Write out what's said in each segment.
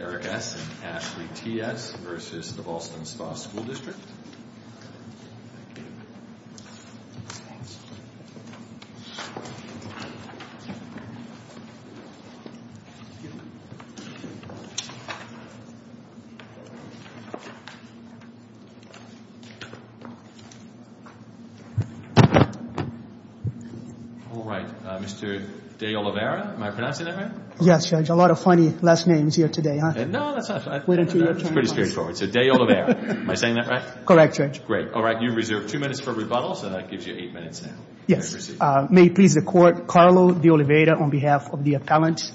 Eric S. and Ashley T.S. v. The Ballston Spa School District Alright, Mr. De Oliveira, am I pronouncing that right? Yes, Judge. A lot of funny last names here today, huh? No, that's not true. It's pretty straightforward. So, De Oliveira. Am I saying that right? Correct, Judge. Great. Alright, you're reserved two minutes for rebuttal, so that gives you eight minutes now. Yes. May it please the Court, Carlo De Oliveira on behalf of the appellant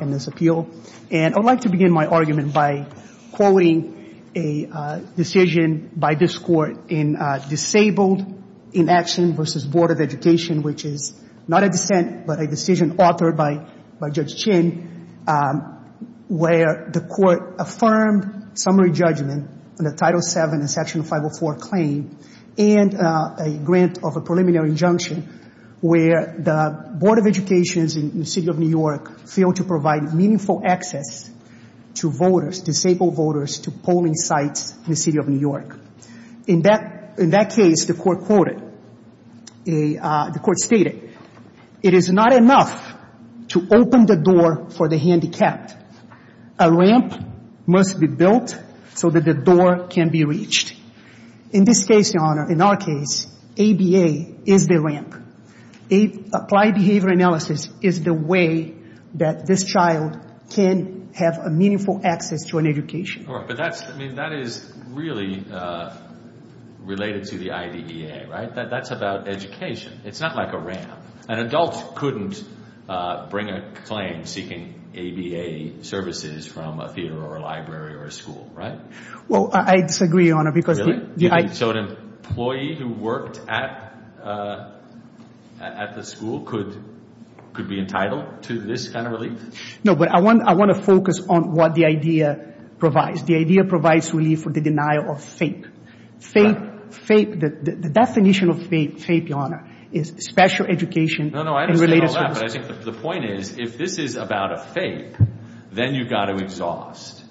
in this appeal. And I'd like to begin my argument by quoting a decision by this Court in Disabled Inaction v. Board of Education, which is not a dissent, but a decision authored by Judge Chin, where the Court affirmed summary judgment on the Title VII and Section 504 claim and a grant of a preliminary injunction where the Board of Education in the City of New York failed to provide meaningful access to voters, disabled voters, to polling sites in the City of New York. In that case, the Court quoted, the Court stated, it is not enough to open the door for the handicapped. A ramp must be built so that the door can be reached. In this case, Your Honor, in our case, ABA is the ramp. Applied behavior analysis is the way that this child can have a meaningful access to an education. But that's, I mean, that is really related to the IDEA, right? That's about education. It's not like a ramp. An adult couldn't bring a claim seeking ABA services from a theater or a library or a school, right? Well, I disagree, Your Honor. Really? So an employee who worked at the school could be entitled to this kind of relief? No, but I want to focus on what the IDEA provides. The IDEA provides relief for the denial of FAPE. FAPE, the definition of FAPE, Your Honor, is special education and related services. No, no, I understand all that, but I think the point is if this is about a FAPE, then you've got to exhaust,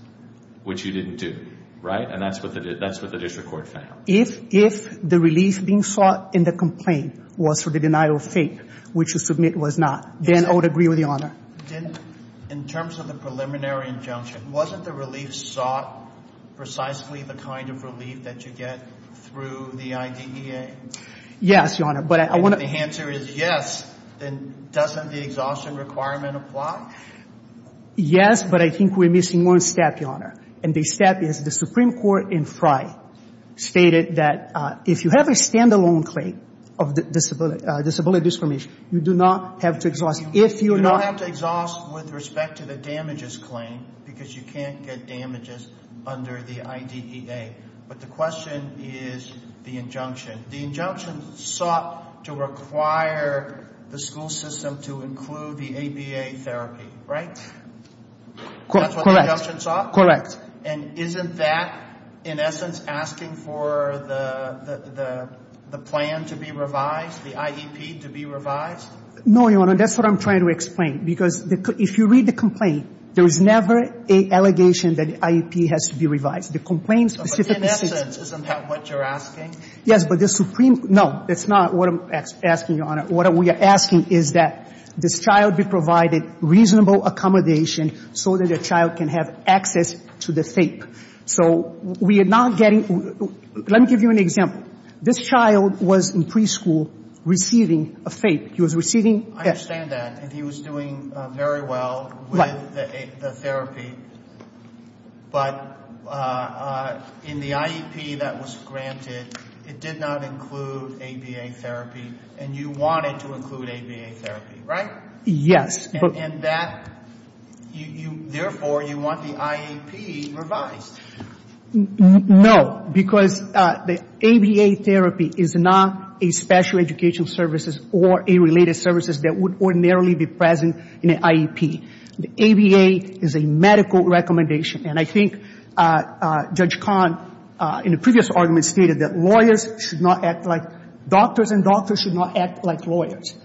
which you didn't do, right? And that's what the district court found. If the relief being sought in the complaint was for the denial of FAPE, which the submit was not, then I would agree with Your Honor. Then in terms of the preliminary injunction, wasn't the relief sought precisely the kind of relief that you get through the IDEA? Yes, Your Honor, but I want to... If the answer is yes, then doesn't the exhaustion requirement apply? Yes, but I think we're missing one step, Your Honor, and the step is the Supreme Court in Frye stated that if you have a stand-alone claim of disability discrimination, you do not have to exhaust. If you're not... You don't have to exhaust with respect to the damages claim because you can't get damages under the IDEA, but the question is the injunction. The injunction sought to require the school system to include the ABA therapy, right? Correct. That's what the injunction sought? Correct. And isn't that in essence asking for the plan to be revised, the IEP to be revised? No, Your Honor, that's what I'm trying to explain because if you read the complaint, there is never an allegation that the IEP has to be revised. The complaint specifically says... But in essence, isn't that what you're asking? Yes, but the Supreme... No, that's not what I'm asking, Your Honor. What we are asking is that this child be provided reasonable accommodation so that the child can have access to the FAPE. So we are not getting... Let me give you an example. This child was in preschool receiving a FAPE. He was receiving... I understand that, and he was doing very well with the therapy. But in the IEP that was granted, it did not include ABA therapy, and you wanted to include ABA therapy, right? Yes. And that, therefore, you want the IEP revised. No, because the ABA therapy is not a special educational services or a related services that would ordinarily be present in an IEP. The ABA is a medical recommendation. And I think Judge Kahn, in a previous argument, stated that lawyers should not act like doctors, and doctors should not act like lawyers.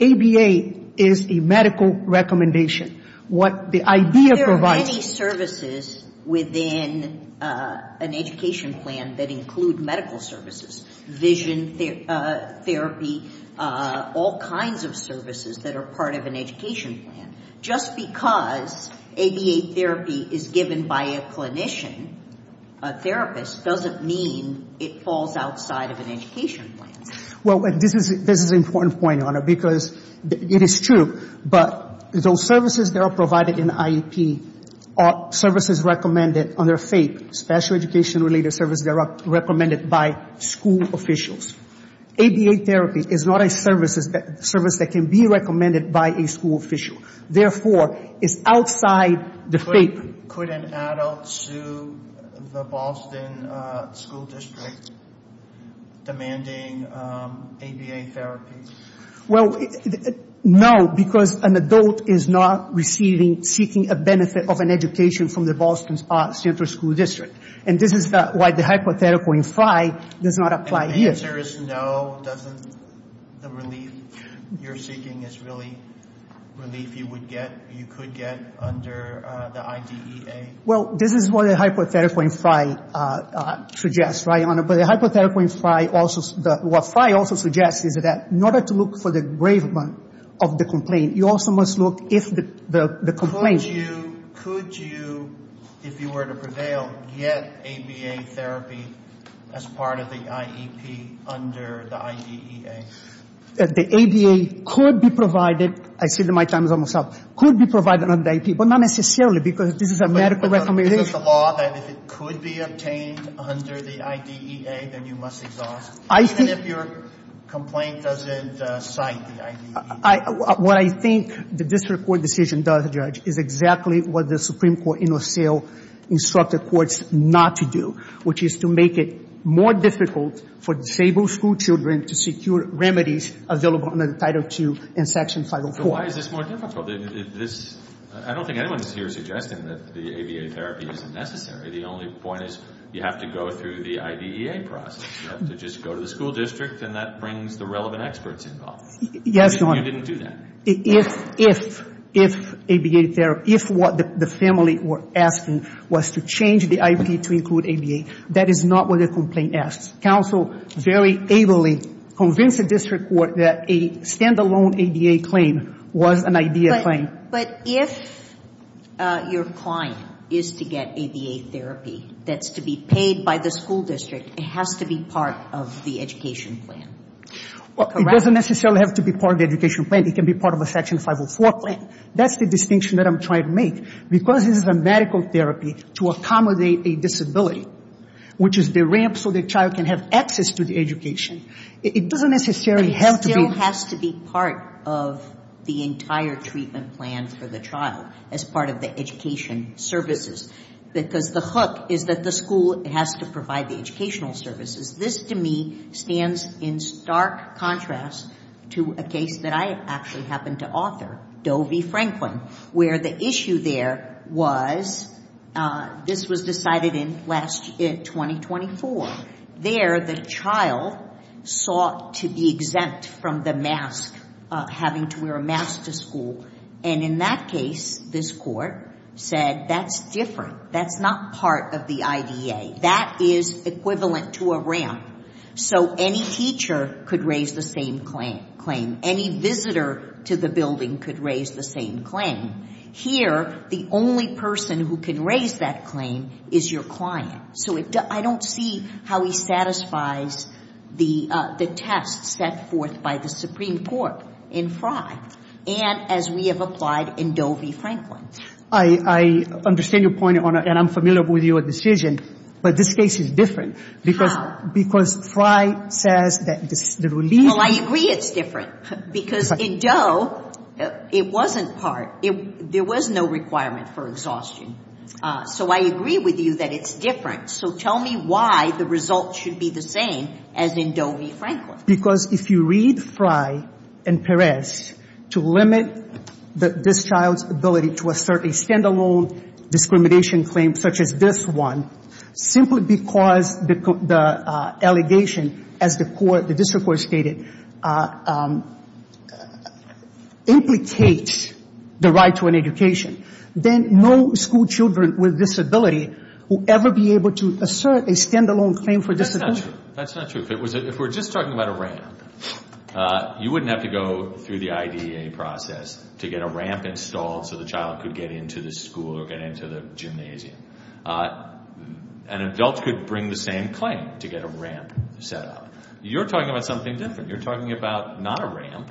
ABA is a medical recommendation. What the idea provides... There are many services within an education plan that include medical services, vision therapy, all kinds of services that are part of an education plan. Just because ABA therapy is given by a clinician, a therapist, doesn't mean it falls outside of an education plan. Well, this is an important point, Your Honor, because it is true. But those services that are provided in the IEP are services recommended under FAPE, special education-related services that are recommended by school officials. ABA therapy is not a service that can be recommended by a school official. Therefore, it's outside the FAPE. Could an adult sue the Boston School District, demanding ABA therapy? Well, no, because an adult is not receiving, seeking a benefit of an education from the Boston Central School District. And this is why the hypothetical in FI does not apply here. If the answer is no, doesn't the relief you're seeking is really relief you would get, you could get under the IDEA? Well, this is what the hypothetical in FI suggests, right, Your Honor? But the hypothetical in FI also... What FI also suggests is that in order to look for the engravement of the complaint, you also must look if the complaint... Could you, if you were to prevail, get ABA therapy as part of the IEP under the IDEA? The ABA could be provided. I see that my time is almost up. Could be provided under the IEP, but not necessarily, because this is a medical recommendation. But is it the law that if it could be obtained under the IDEA, then you must exhaust it? I think... Even if your complaint doesn't cite the IDEA? What I think the district court decision does, Judge, is exactly what the Supreme Court in O'Seal instructed courts not to do, which is to make it more difficult for disabled school children to secure remedies available under Title II and Section 504. But why is this more difficult? I don't think anyone is here suggesting that the ABA therapy isn't necessary. The only point is you have to go through the IDEA process. You have to just go to the school district, and that brings the relevant experts involved. Yes, Your Honor. You didn't do that. If, if, if ABA therapy, if what the family were asking was to change the IEP to include ABA, that is not what the complaint asks. Counsel very ably convinced the district court that a stand-alone ABA claim was an IDEA claim. But if your client is to get ABA therapy that's to be paid by the school district, it has to be part of the education plan. Correct? It doesn't necessarily have to be part of the education plan. It can be part of a Section 504 plan. That's the distinction that I'm trying to make. Because this is a medical therapy to accommodate a disability, which is the ramp so the child can have access to the education, it doesn't necessarily have to be. But it still has to be part of the entire treatment plan for the child as part of the education services, because the hook is that the school has to provide the educational services. This, to me, stands in stark contrast to a case that I actually happened to author, Doe v. Franklin, where the issue there was this was decided in last year, 2024. There, the child sought to be exempt from the mask, having to wear a mask to school. And in that case, this court said that's different. That's not part of the IDEA. That is equivalent to a ramp. So any teacher could raise the same claim. Any visitor to the building could raise the same claim. Here, the only person who can raise that claim is your client. So I don't see how he satisfies the test set forth by the Supreme Court in Frye and as we have applied in Doe v. Franklin. I understand your point, Your Honor, and I'm familiar with your decision, but this case is different. Because Frye says that the relief. Well, I agree it's different, because in Doe, it wasn't part. There was no requirement for exhaustion. So I agree with you that it's different. So tell me why the result should be the same as in Doe v. Franklin. Because if you read Frye and Perez to limit this child's ability to assert a stand-alone discrimination claim such as this one, simply because the allegation, as the district court stated, implicates the right to an education, then no school children with disability will ever be able to assert a stand-alone claim for disability. That's not true. That's not true. If we're just talking about a ramp, you wouldn't have to go through the IDEA process to get a ramp installed so the child could get into the school or get into the gymnasium. An adult could bring the same claim to get a ramp set up. You're talking about something different. You're talking about not a ramp.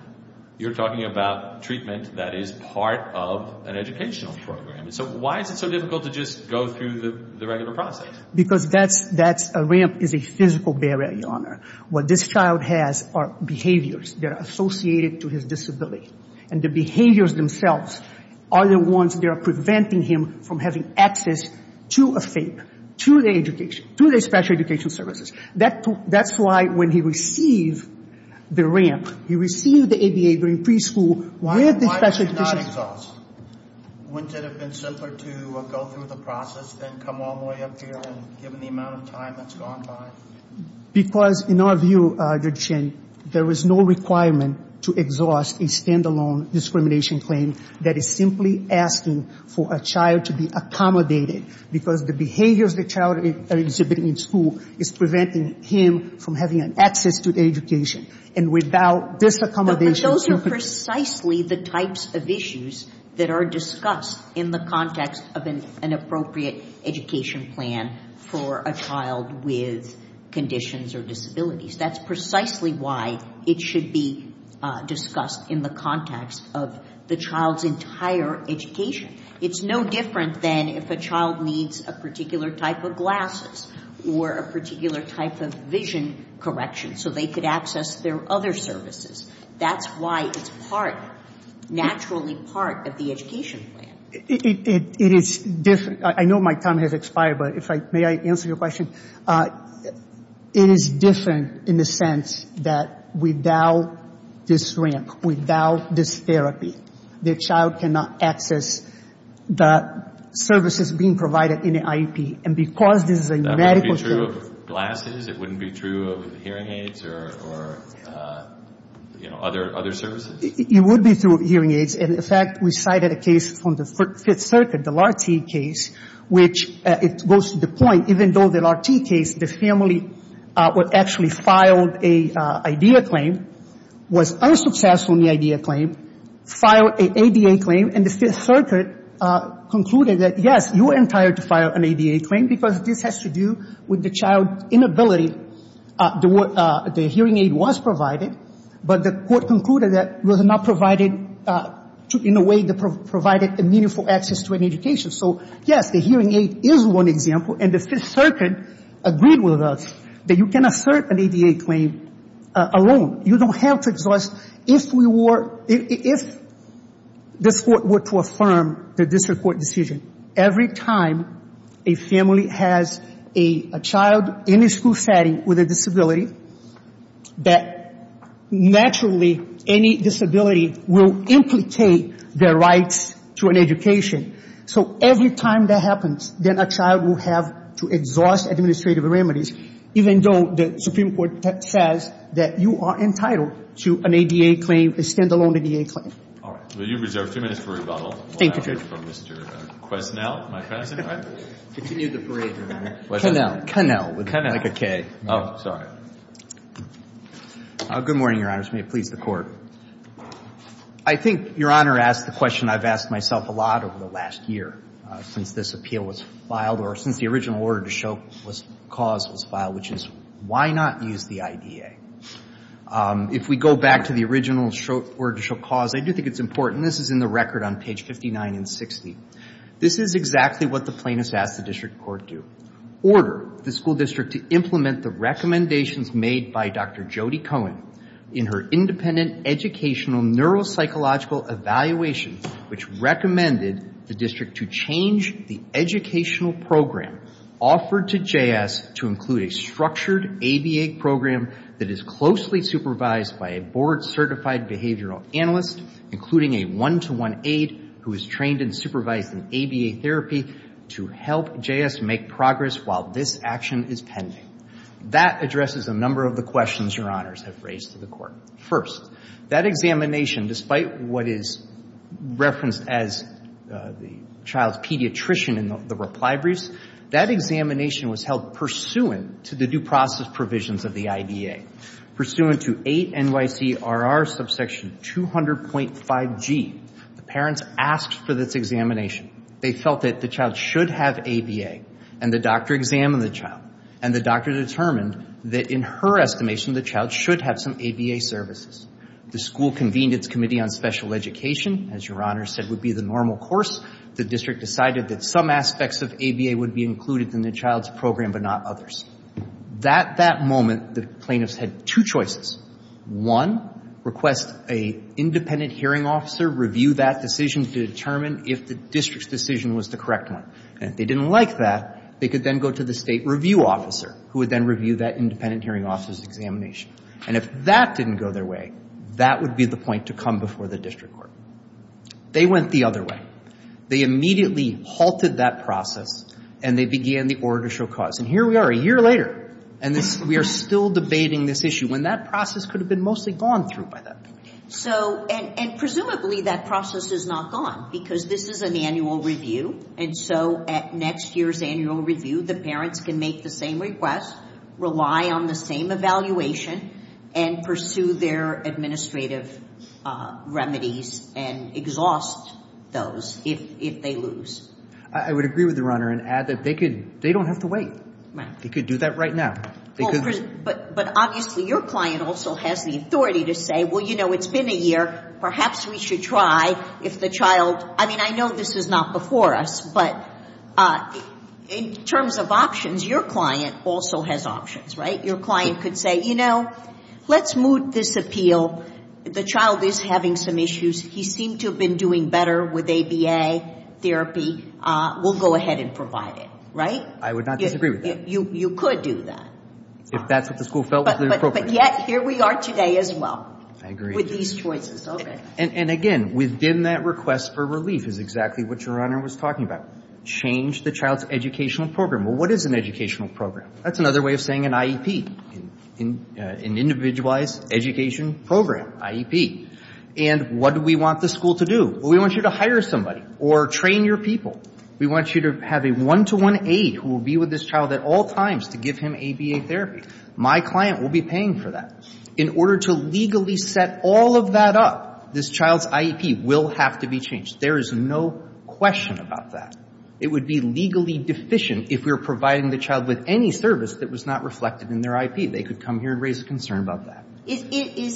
You're talking about treatment that is part of an educational program. So why is it so difficult to just go through the regular process? Because a ramp is a physical barrier, Your Honor. What this child has are behaviors that are associated to his disability, and the behaviors themselves are the ones that are preventing him from having access to a FAPE, to the education, to the special education services. That's why when he received the ramp, he received the ADA during preschool with the special education. Wouldn't it have been simpler to go through the process and come all the way up here and given the amount of time that's gone by? Because, in our view, Judge Chen, there is no requirement to exhaust a stand-alone discrimination claim that is simply asking for a child to be accommodated, because the behaviors the child is exhibiting in school is preventing him from having access to education. And without this accommodation, But those are precisely the types of issues that are discussed in the context of an appropriate education plan for a child with conditions or disabilities. That's precisely why it should be discussed in the context of the child's entire education. It's no different than if a child needs a particular type of glasses or a particular type of vision correction so they could access their other services. That's why it's part, naturally part, of the education plan. It is different. I know my time has expired, but may I answer your question? It is different in the sense that without this ramp, without this therapy, the child cannot access the services being provided in the IEP. And because this is a medical service. It wouldn't be true of glasses? It wouldn't be true of hearing aids or, you know, other services? It would be true of hearing aids. And, in fact, we cited a case from the Fifth Circuit, the Lahr-T case, which it goes to the point, even though the Lahr-T case, the family actually filed an IDA claim, was unsuccessful in the IDA claim, filed an ADA claim, and the Fifth Circuit concluded that, yes, you are entitled to file an ADA claim because this has to do with the child's inability. The hearing aid was provided, but the court concluded that it was not provided in a way that provided meaningful access to an education. So, yes, the hearing aid is one example, and the Fifth Circuit agreed with us that you can assert an ADA claim alone. You don't have to exhaust. If this court were to affirm the district court decision, every time a family has a child in a school setting with a disability, that naturally any disability will implicate their rights to an education. So every time that happens, then a child will have to exhaust administrative remedies, even though the Supreme Court says that you are entitled to an ADA claim, a stand-alone ADA claim. All right. Well, you've reserved two minutes for rebuttal. Thank you, Judge. We'll have it from Mr. Quesnel. Continue the parade, Your Honor. Quesnel. Quesnel would be like a K. Oh, sorry. Good morning, Your Honors. May it please the Court. I think Your Honor asked the question I've asked myself a lot over the last year, since this appeal was filed, or since the original order to show cause was filed, which is why not use the IDA? If we go back to the original order to show cause, I do think it's important. This is in the record on page 59 and 60. This is exactly what the plaintiffs asked the district court to do, order the school district to implement the recommendations made by Dr. Jody Cohen in her independent educational neuropsychological evaluation, which recommended the district to change the educational program offered to J.S. to include a structured ABA program that is closely supervised by a board-certified behavioral analyst, including a one-to-one aide who is trained and supervised in ABA therapy, to help J.S. make progress while this action is pending. That addresses a number of the questions Your Honors have raised to the Court. First, that examination, despite what is referenced as the child's pediatrician in the reply briefs, that examination was held pursuant to the due process provisions of the IDA, pursuant to 8 NYC RR subsection 200.5G. The parents asked for this examination. They felt that the child should have ABA, and the doctor examined the child, and the doctor determined that in her estimation the child should have some ABA services. The school convened its committee on special education. As Your Honors said, it would be the normal course. The district decided that some aspects of ABA would be included in the child's program, but not others. At that moment, the plaintiffs had two choices. One, request an independent hearing officer review that decision to determine if the district's decision was the correct one. And if they didn't like that, they could then go to the state review officer, who would then review that independent hearing officer's examination. And if that didn't go their way, that would be the point to come before the district court. They went the other way. They immediately halted that process, and they began the order to show cause. And here we are a year later, and we are still debating this issue, when that process could have been mostly gone through by that point. And presumably that process is not gone, because this is an annual review, and so at next year's annual review, the parents can make the same request, rely on the same evaluation, and pursue their administrative remedies and exhaust those if they lose. I would agree with Your Honor and add that they don't have to wait. They could do that right now. But obviously your client also has the authority to say, well, you know, it's been a year, perhaps we should try if the child – I mean, I know this is not before us, but in terms of options, your client also has options, right? Your client could say, you know, let's moot this appeal. The child is having some issues. He seemed to have been doing better with ABA therapy. We'll go ahead and provide it, right? I would not disagree with that. You could do that. If that's what the school felt was appropriate. But yet here we are today as well. I agree. With these choices. Okay. And again, within that request for relief is exactly what Your Honor was talking about. Change the child's educational program. Well, what is an educational program? That's another way of saying an IEP, an Individualized Education Program, IEP. And what do we want the school to do? Well, we want you to hire somebody or train your people. We want you to have a one-to-one aide who will be with this child at all times to give him ABA therapy. My client will be paying for that. In order to legally set all of that up, this child's IEP will have to be changed. There is no question about that. It would be legally deficient if we were providing the child with any service that was not reflected in their IEP. They could come here and raise a concern about that. Is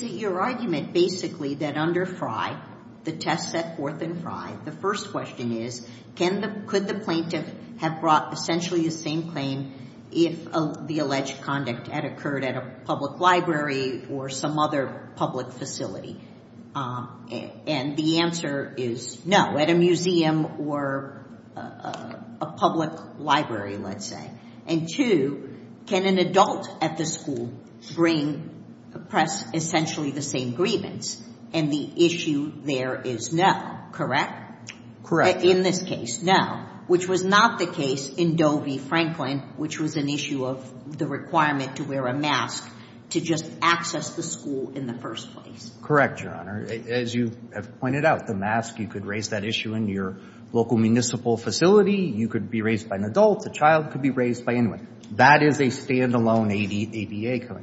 it your argument basically that under Frye, the test set forth in Frye, the first question is could the plaintiff have brought essentially the same claim if the alleged conduct had occurred at a public library or some other public facility? And the answer is no, at a museum or a public library, let's say. And two, can an adult at the school bring essentially the same grievance? And the issue there is no, correct? Correct. In this case, no, which was not the case in Doe v. Franklin, which was an issue of the requirement to wear a mask to just access the school in the first place. Correct, Your Honor. As you have pointed out, the mask, you could raise that issue in your local municipal facility. You could be raised by an adult. The child could be raised by anyone. That is a stand-alone IDEA claim.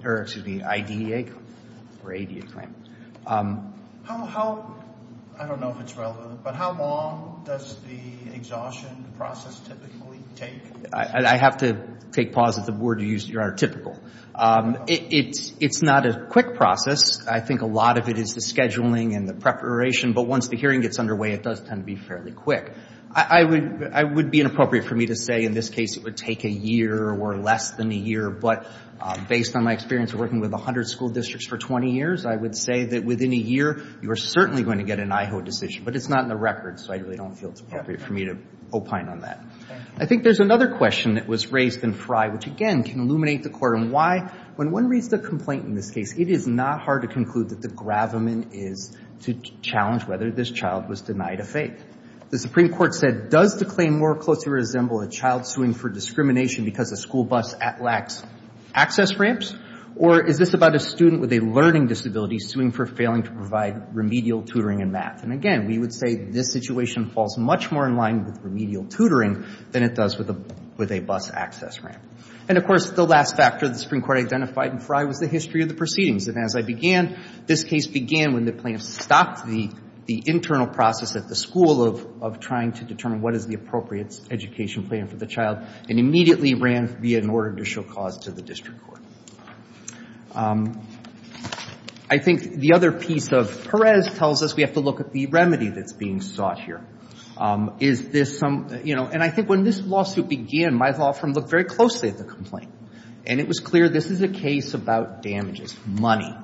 I don't know if it's relevant, but how long does the exhaustion process typically take? I have to take pause at the word you used, Your Honor, typical. It's not a quick process. I think a lot of it is the scheduling and the preparation, but once the hearing gets underway, it does tend to be fairly quick. It would be inappropriate for me to say in this case it would take a year or less than a year, but based on my experience of working with 100 school districts for 20 years, I would say that within a year, you are certainly going to get an IHO decision, but it's not in the records, so I really don't feel it's appropriate for me to opine on that. I think there's another question that was raised in Frye, which, again, can illuminate the Court on why. When one reads the complaint in this case, it is not hard to conclude that the gravamen is to challenge whether this child was denied a fate. The Supreme Court said, Does the claim more closely resemble a child suing for discrimination because a school bus lacks access ramps, or is this about a student with a learning disability suing for failing to provide remedial tutoring in math? And, again, we would say this situation falls much more in line with remedial tutoring than it does with a bus access ramp. And, of course, the last factor the Supreme Court identified in Frye was the history of the proceedings, and as I began, this case began when the plaintiffs stopped the internal process at the school of trying to determine what is the appropriate education plan for the child and immediately ran via an order to show cause to the district court. I think the other piece of Perez tells us we have to look at the remedy that's being sought here. Is this some, you know, and I think when this lawsuit began, my law firm looked very closely at the complaint, and it was clear this is a case about damages, money.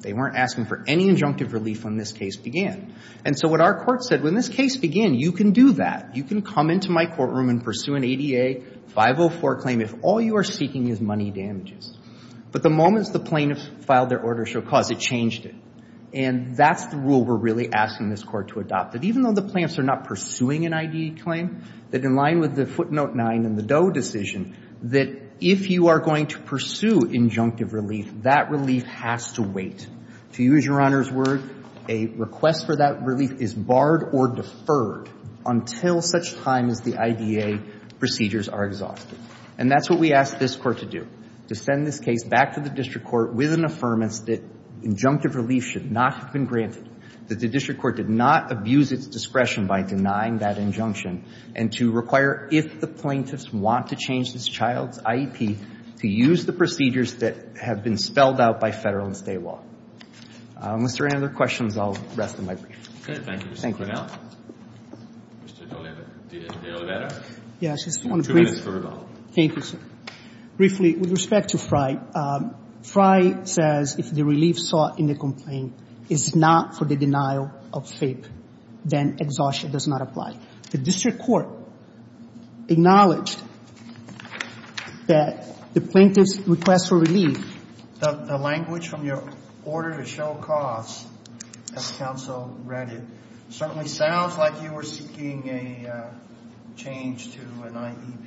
They weren't asking for any injunctive relief when this case began. And so what our court said, when this case began, you can do that. You can come into my courtroom and pursue an ADA 504 claim if all you are seeking is money damages. But the moment the plaintiffs filed their order to show cause, it changed it. And that's the rule we're really asking this court to adopt, that even though the plaintiffs are not pursuing an IDE claim, that in line with the footnote nine in the Doe decision, that if you are going to pursue injunctive relief, that relief has to wait. To use Your Honor's word, a request for that relief is barred or deferred until such time as the IDA procedures are exhausted. And that's what we ask this court to do, to send this case back to the district court with an affirmance that injunctive relief should not have been granted, that the district court did not abuse its discretion by denying that injunction, and to require if the plaintiffs want to change this child's IEP, to use the procedures that have been spelled out by federal and state law. Is there any other questions? I'll rest in my brief. Okay. Thank you, Mr. Cornell. Mr. De Oliveira. Yes. Two minutes for rebuttal. Thank you, sir. Briefly, with respect to Frye, Frye says if the relief sought in the complaint is not for the denial of FAPE, then exhaustion does not apply. The district court acknowledged that the plaintiff's request for relief. The language from your order to show costs, as counsel read it, certainly sounds like you were seeking a change to an IEP.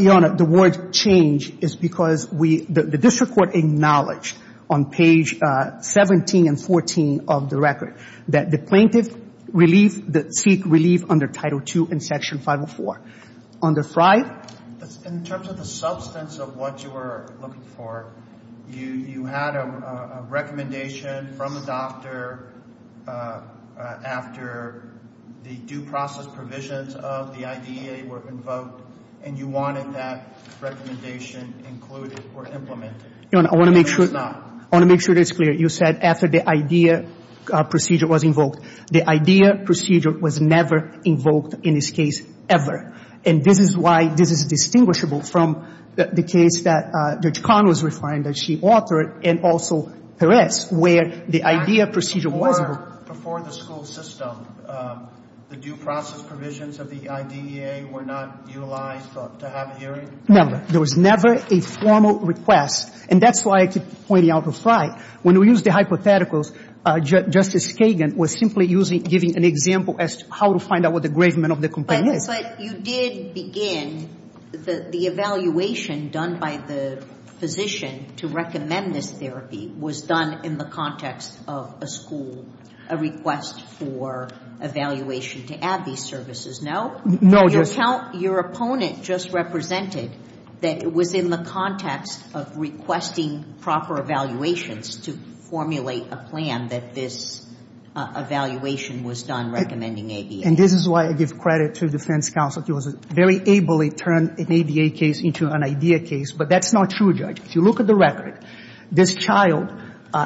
Your Honor, the word change is because we – the district court acknowledged on page 17 and 14 of the record that the plaintiff seek relief under Title II and Section 504. Under Frye? In terms of the substance of what you were looking for, you had a recommendation from the doctor after the due process provisions of the IDEA were invoked, and you wanted that recommendation included or implemented. Your Honor, I want to make sure it's clear. You said after the IDEA procedure was invoked. The IDEA procedure was never invoked in this case, ever. And this is why this is distinguishable from the case that Judge Connell was referring to, that she authored, and also Perez, where the IDEA procedure was invoked. Before the school system, the due process provisions of the IDEA were not utilized to have a hearing? No. There was never a formal request. And that's why I keep pointing out to Frye. When we use the hypotheticals, Justice Kagan was simply giving an example as to how to find out what the engravement of the complaint is. But you did begin the evaluation done by the physician to recommend this therapy was done in the context of a school, a request for evaluation to add these services. No? No, Your Honor. Your opponent just represented that it was in the context of requesting proper evaluations to formulate a plan that this evaluation was done recommending ABA. And this is why I give credit to defense counsel. He was very able to turn an ABA case into an IDEA case. But that's not true, Judge. If you look at the record, this child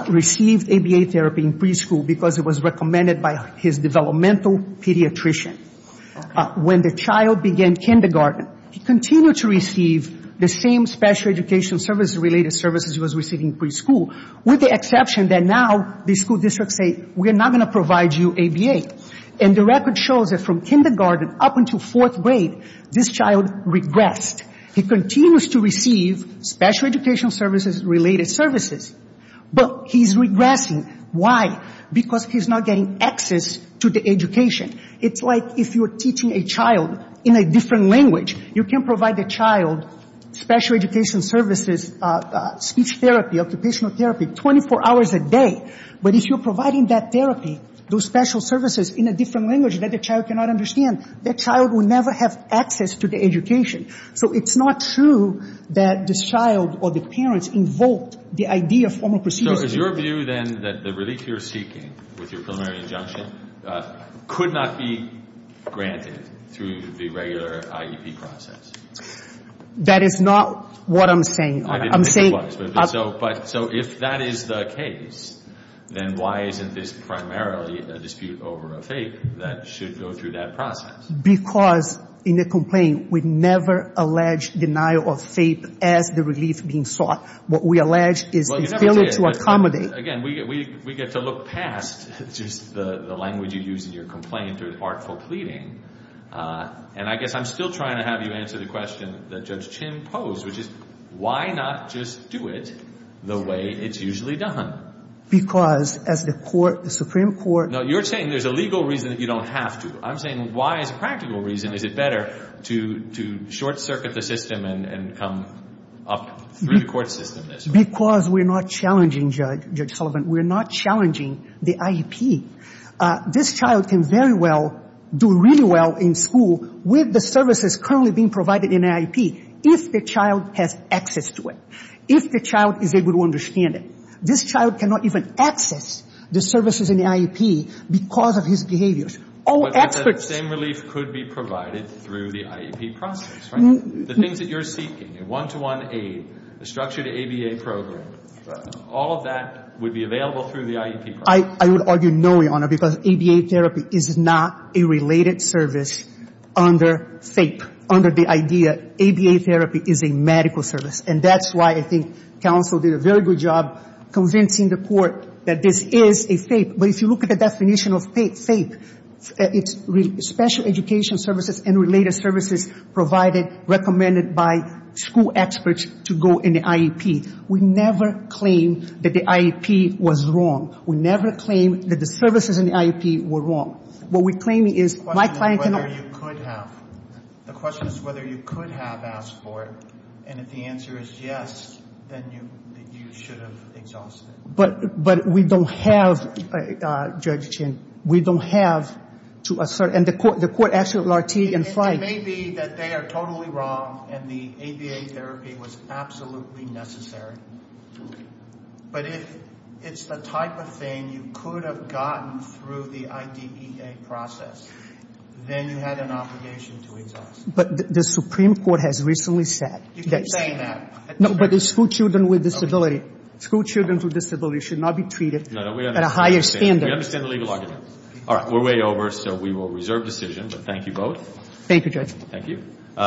received ABA therapy in preschool because it was recommended by his developmental pediatrician. When the child began kindergarten, he continued to receive the same special education services related services he was receiving in preschool with the exception that now the school districts say, we're not going to provide you ABA. And the record shows that from kindergarten up until fourth grade, this child regressed. He continues to receive special education services related services, but he's regressing. Why? Because he's not getting access to the education. It's like if you're teaching a child in a different language, you can provide the child special education services, speech therapy, occupational therapy, 24 hours a day. But if you're providing that therapy, those special services in a different language that the child cannot understand, the child will never have access to the education. So it's not true that this child or the parents invoked the idea of formal procedures. So is your view then that the relief you're seeking with your preliminary injunction could not be granted through the regular IEP process? That is not what I'm saying. I didn't think it was. So if that is the case, then why isn't this primarily a dispute over a FAPE that should go through that process? Because in the complaint, we never allege denial of FAPE as the relief being sought. What we allege is the failure to accommodate. Again, we get to look past just the language you use in your complaint or the artful pleading. And I guess I'm still trying to have you answer the question that Judge Chin posed, which is why not just do it the way it's usually done? Because as the Supreme Court ---- No, you're saying there's a legal reason that you don't have to. I'm saying why as a practical reason is it better to short-circuit the system and come up through the court system this way? Because we're not challenging, Judge Sullivan, we're not challenging the IEP. This child can very well do really well in school with the services currently being provided in the IEP if the child has access to it, if the child is able to understand it. This child cannot even access the services in the IEP because of his behaviors. All experts ---- But that same relief could be provided through the IEP process, right? The things that you're seeking, a one-to-one aid, a structured ABA program, all of that would be available through the IEP process. I would argue no, Your Honor, because ABA therapy is not a related service under FAPE, under the idea ABA therapy is a medical service. And that's why I think counsel did a very good job convincing the court that this is a FAPE. But if you look at the definition of FAPE, it's special education services and related services provided, recommended by school experts to go in the IEP. We never claim that the IEP was wrong. We never claim that the services in the IEP were wrong. What we're claiming is my client cannot ---- The question is whether you could have. The question is whether you could have asked for it. And if the answer is yes, then you should have exhausted it. But we don't have, Judge Chin, we don't have to assert, and the court actually ---- It may be that they are totally wrong and the ABA therapy was absolutely necessary. But if it's the type of thing you could have gotten through the IDEA process, then you had an obligation to exhaust it. But the Supreme Court has recently said that ---- You keep saying that. No, but the school children with disability, school children with disability should not be treated at a higher standard. We understand the legal argument. All right, we're way over, so we will reserve decision. But thank you both. Thank you, Judge. Thank you.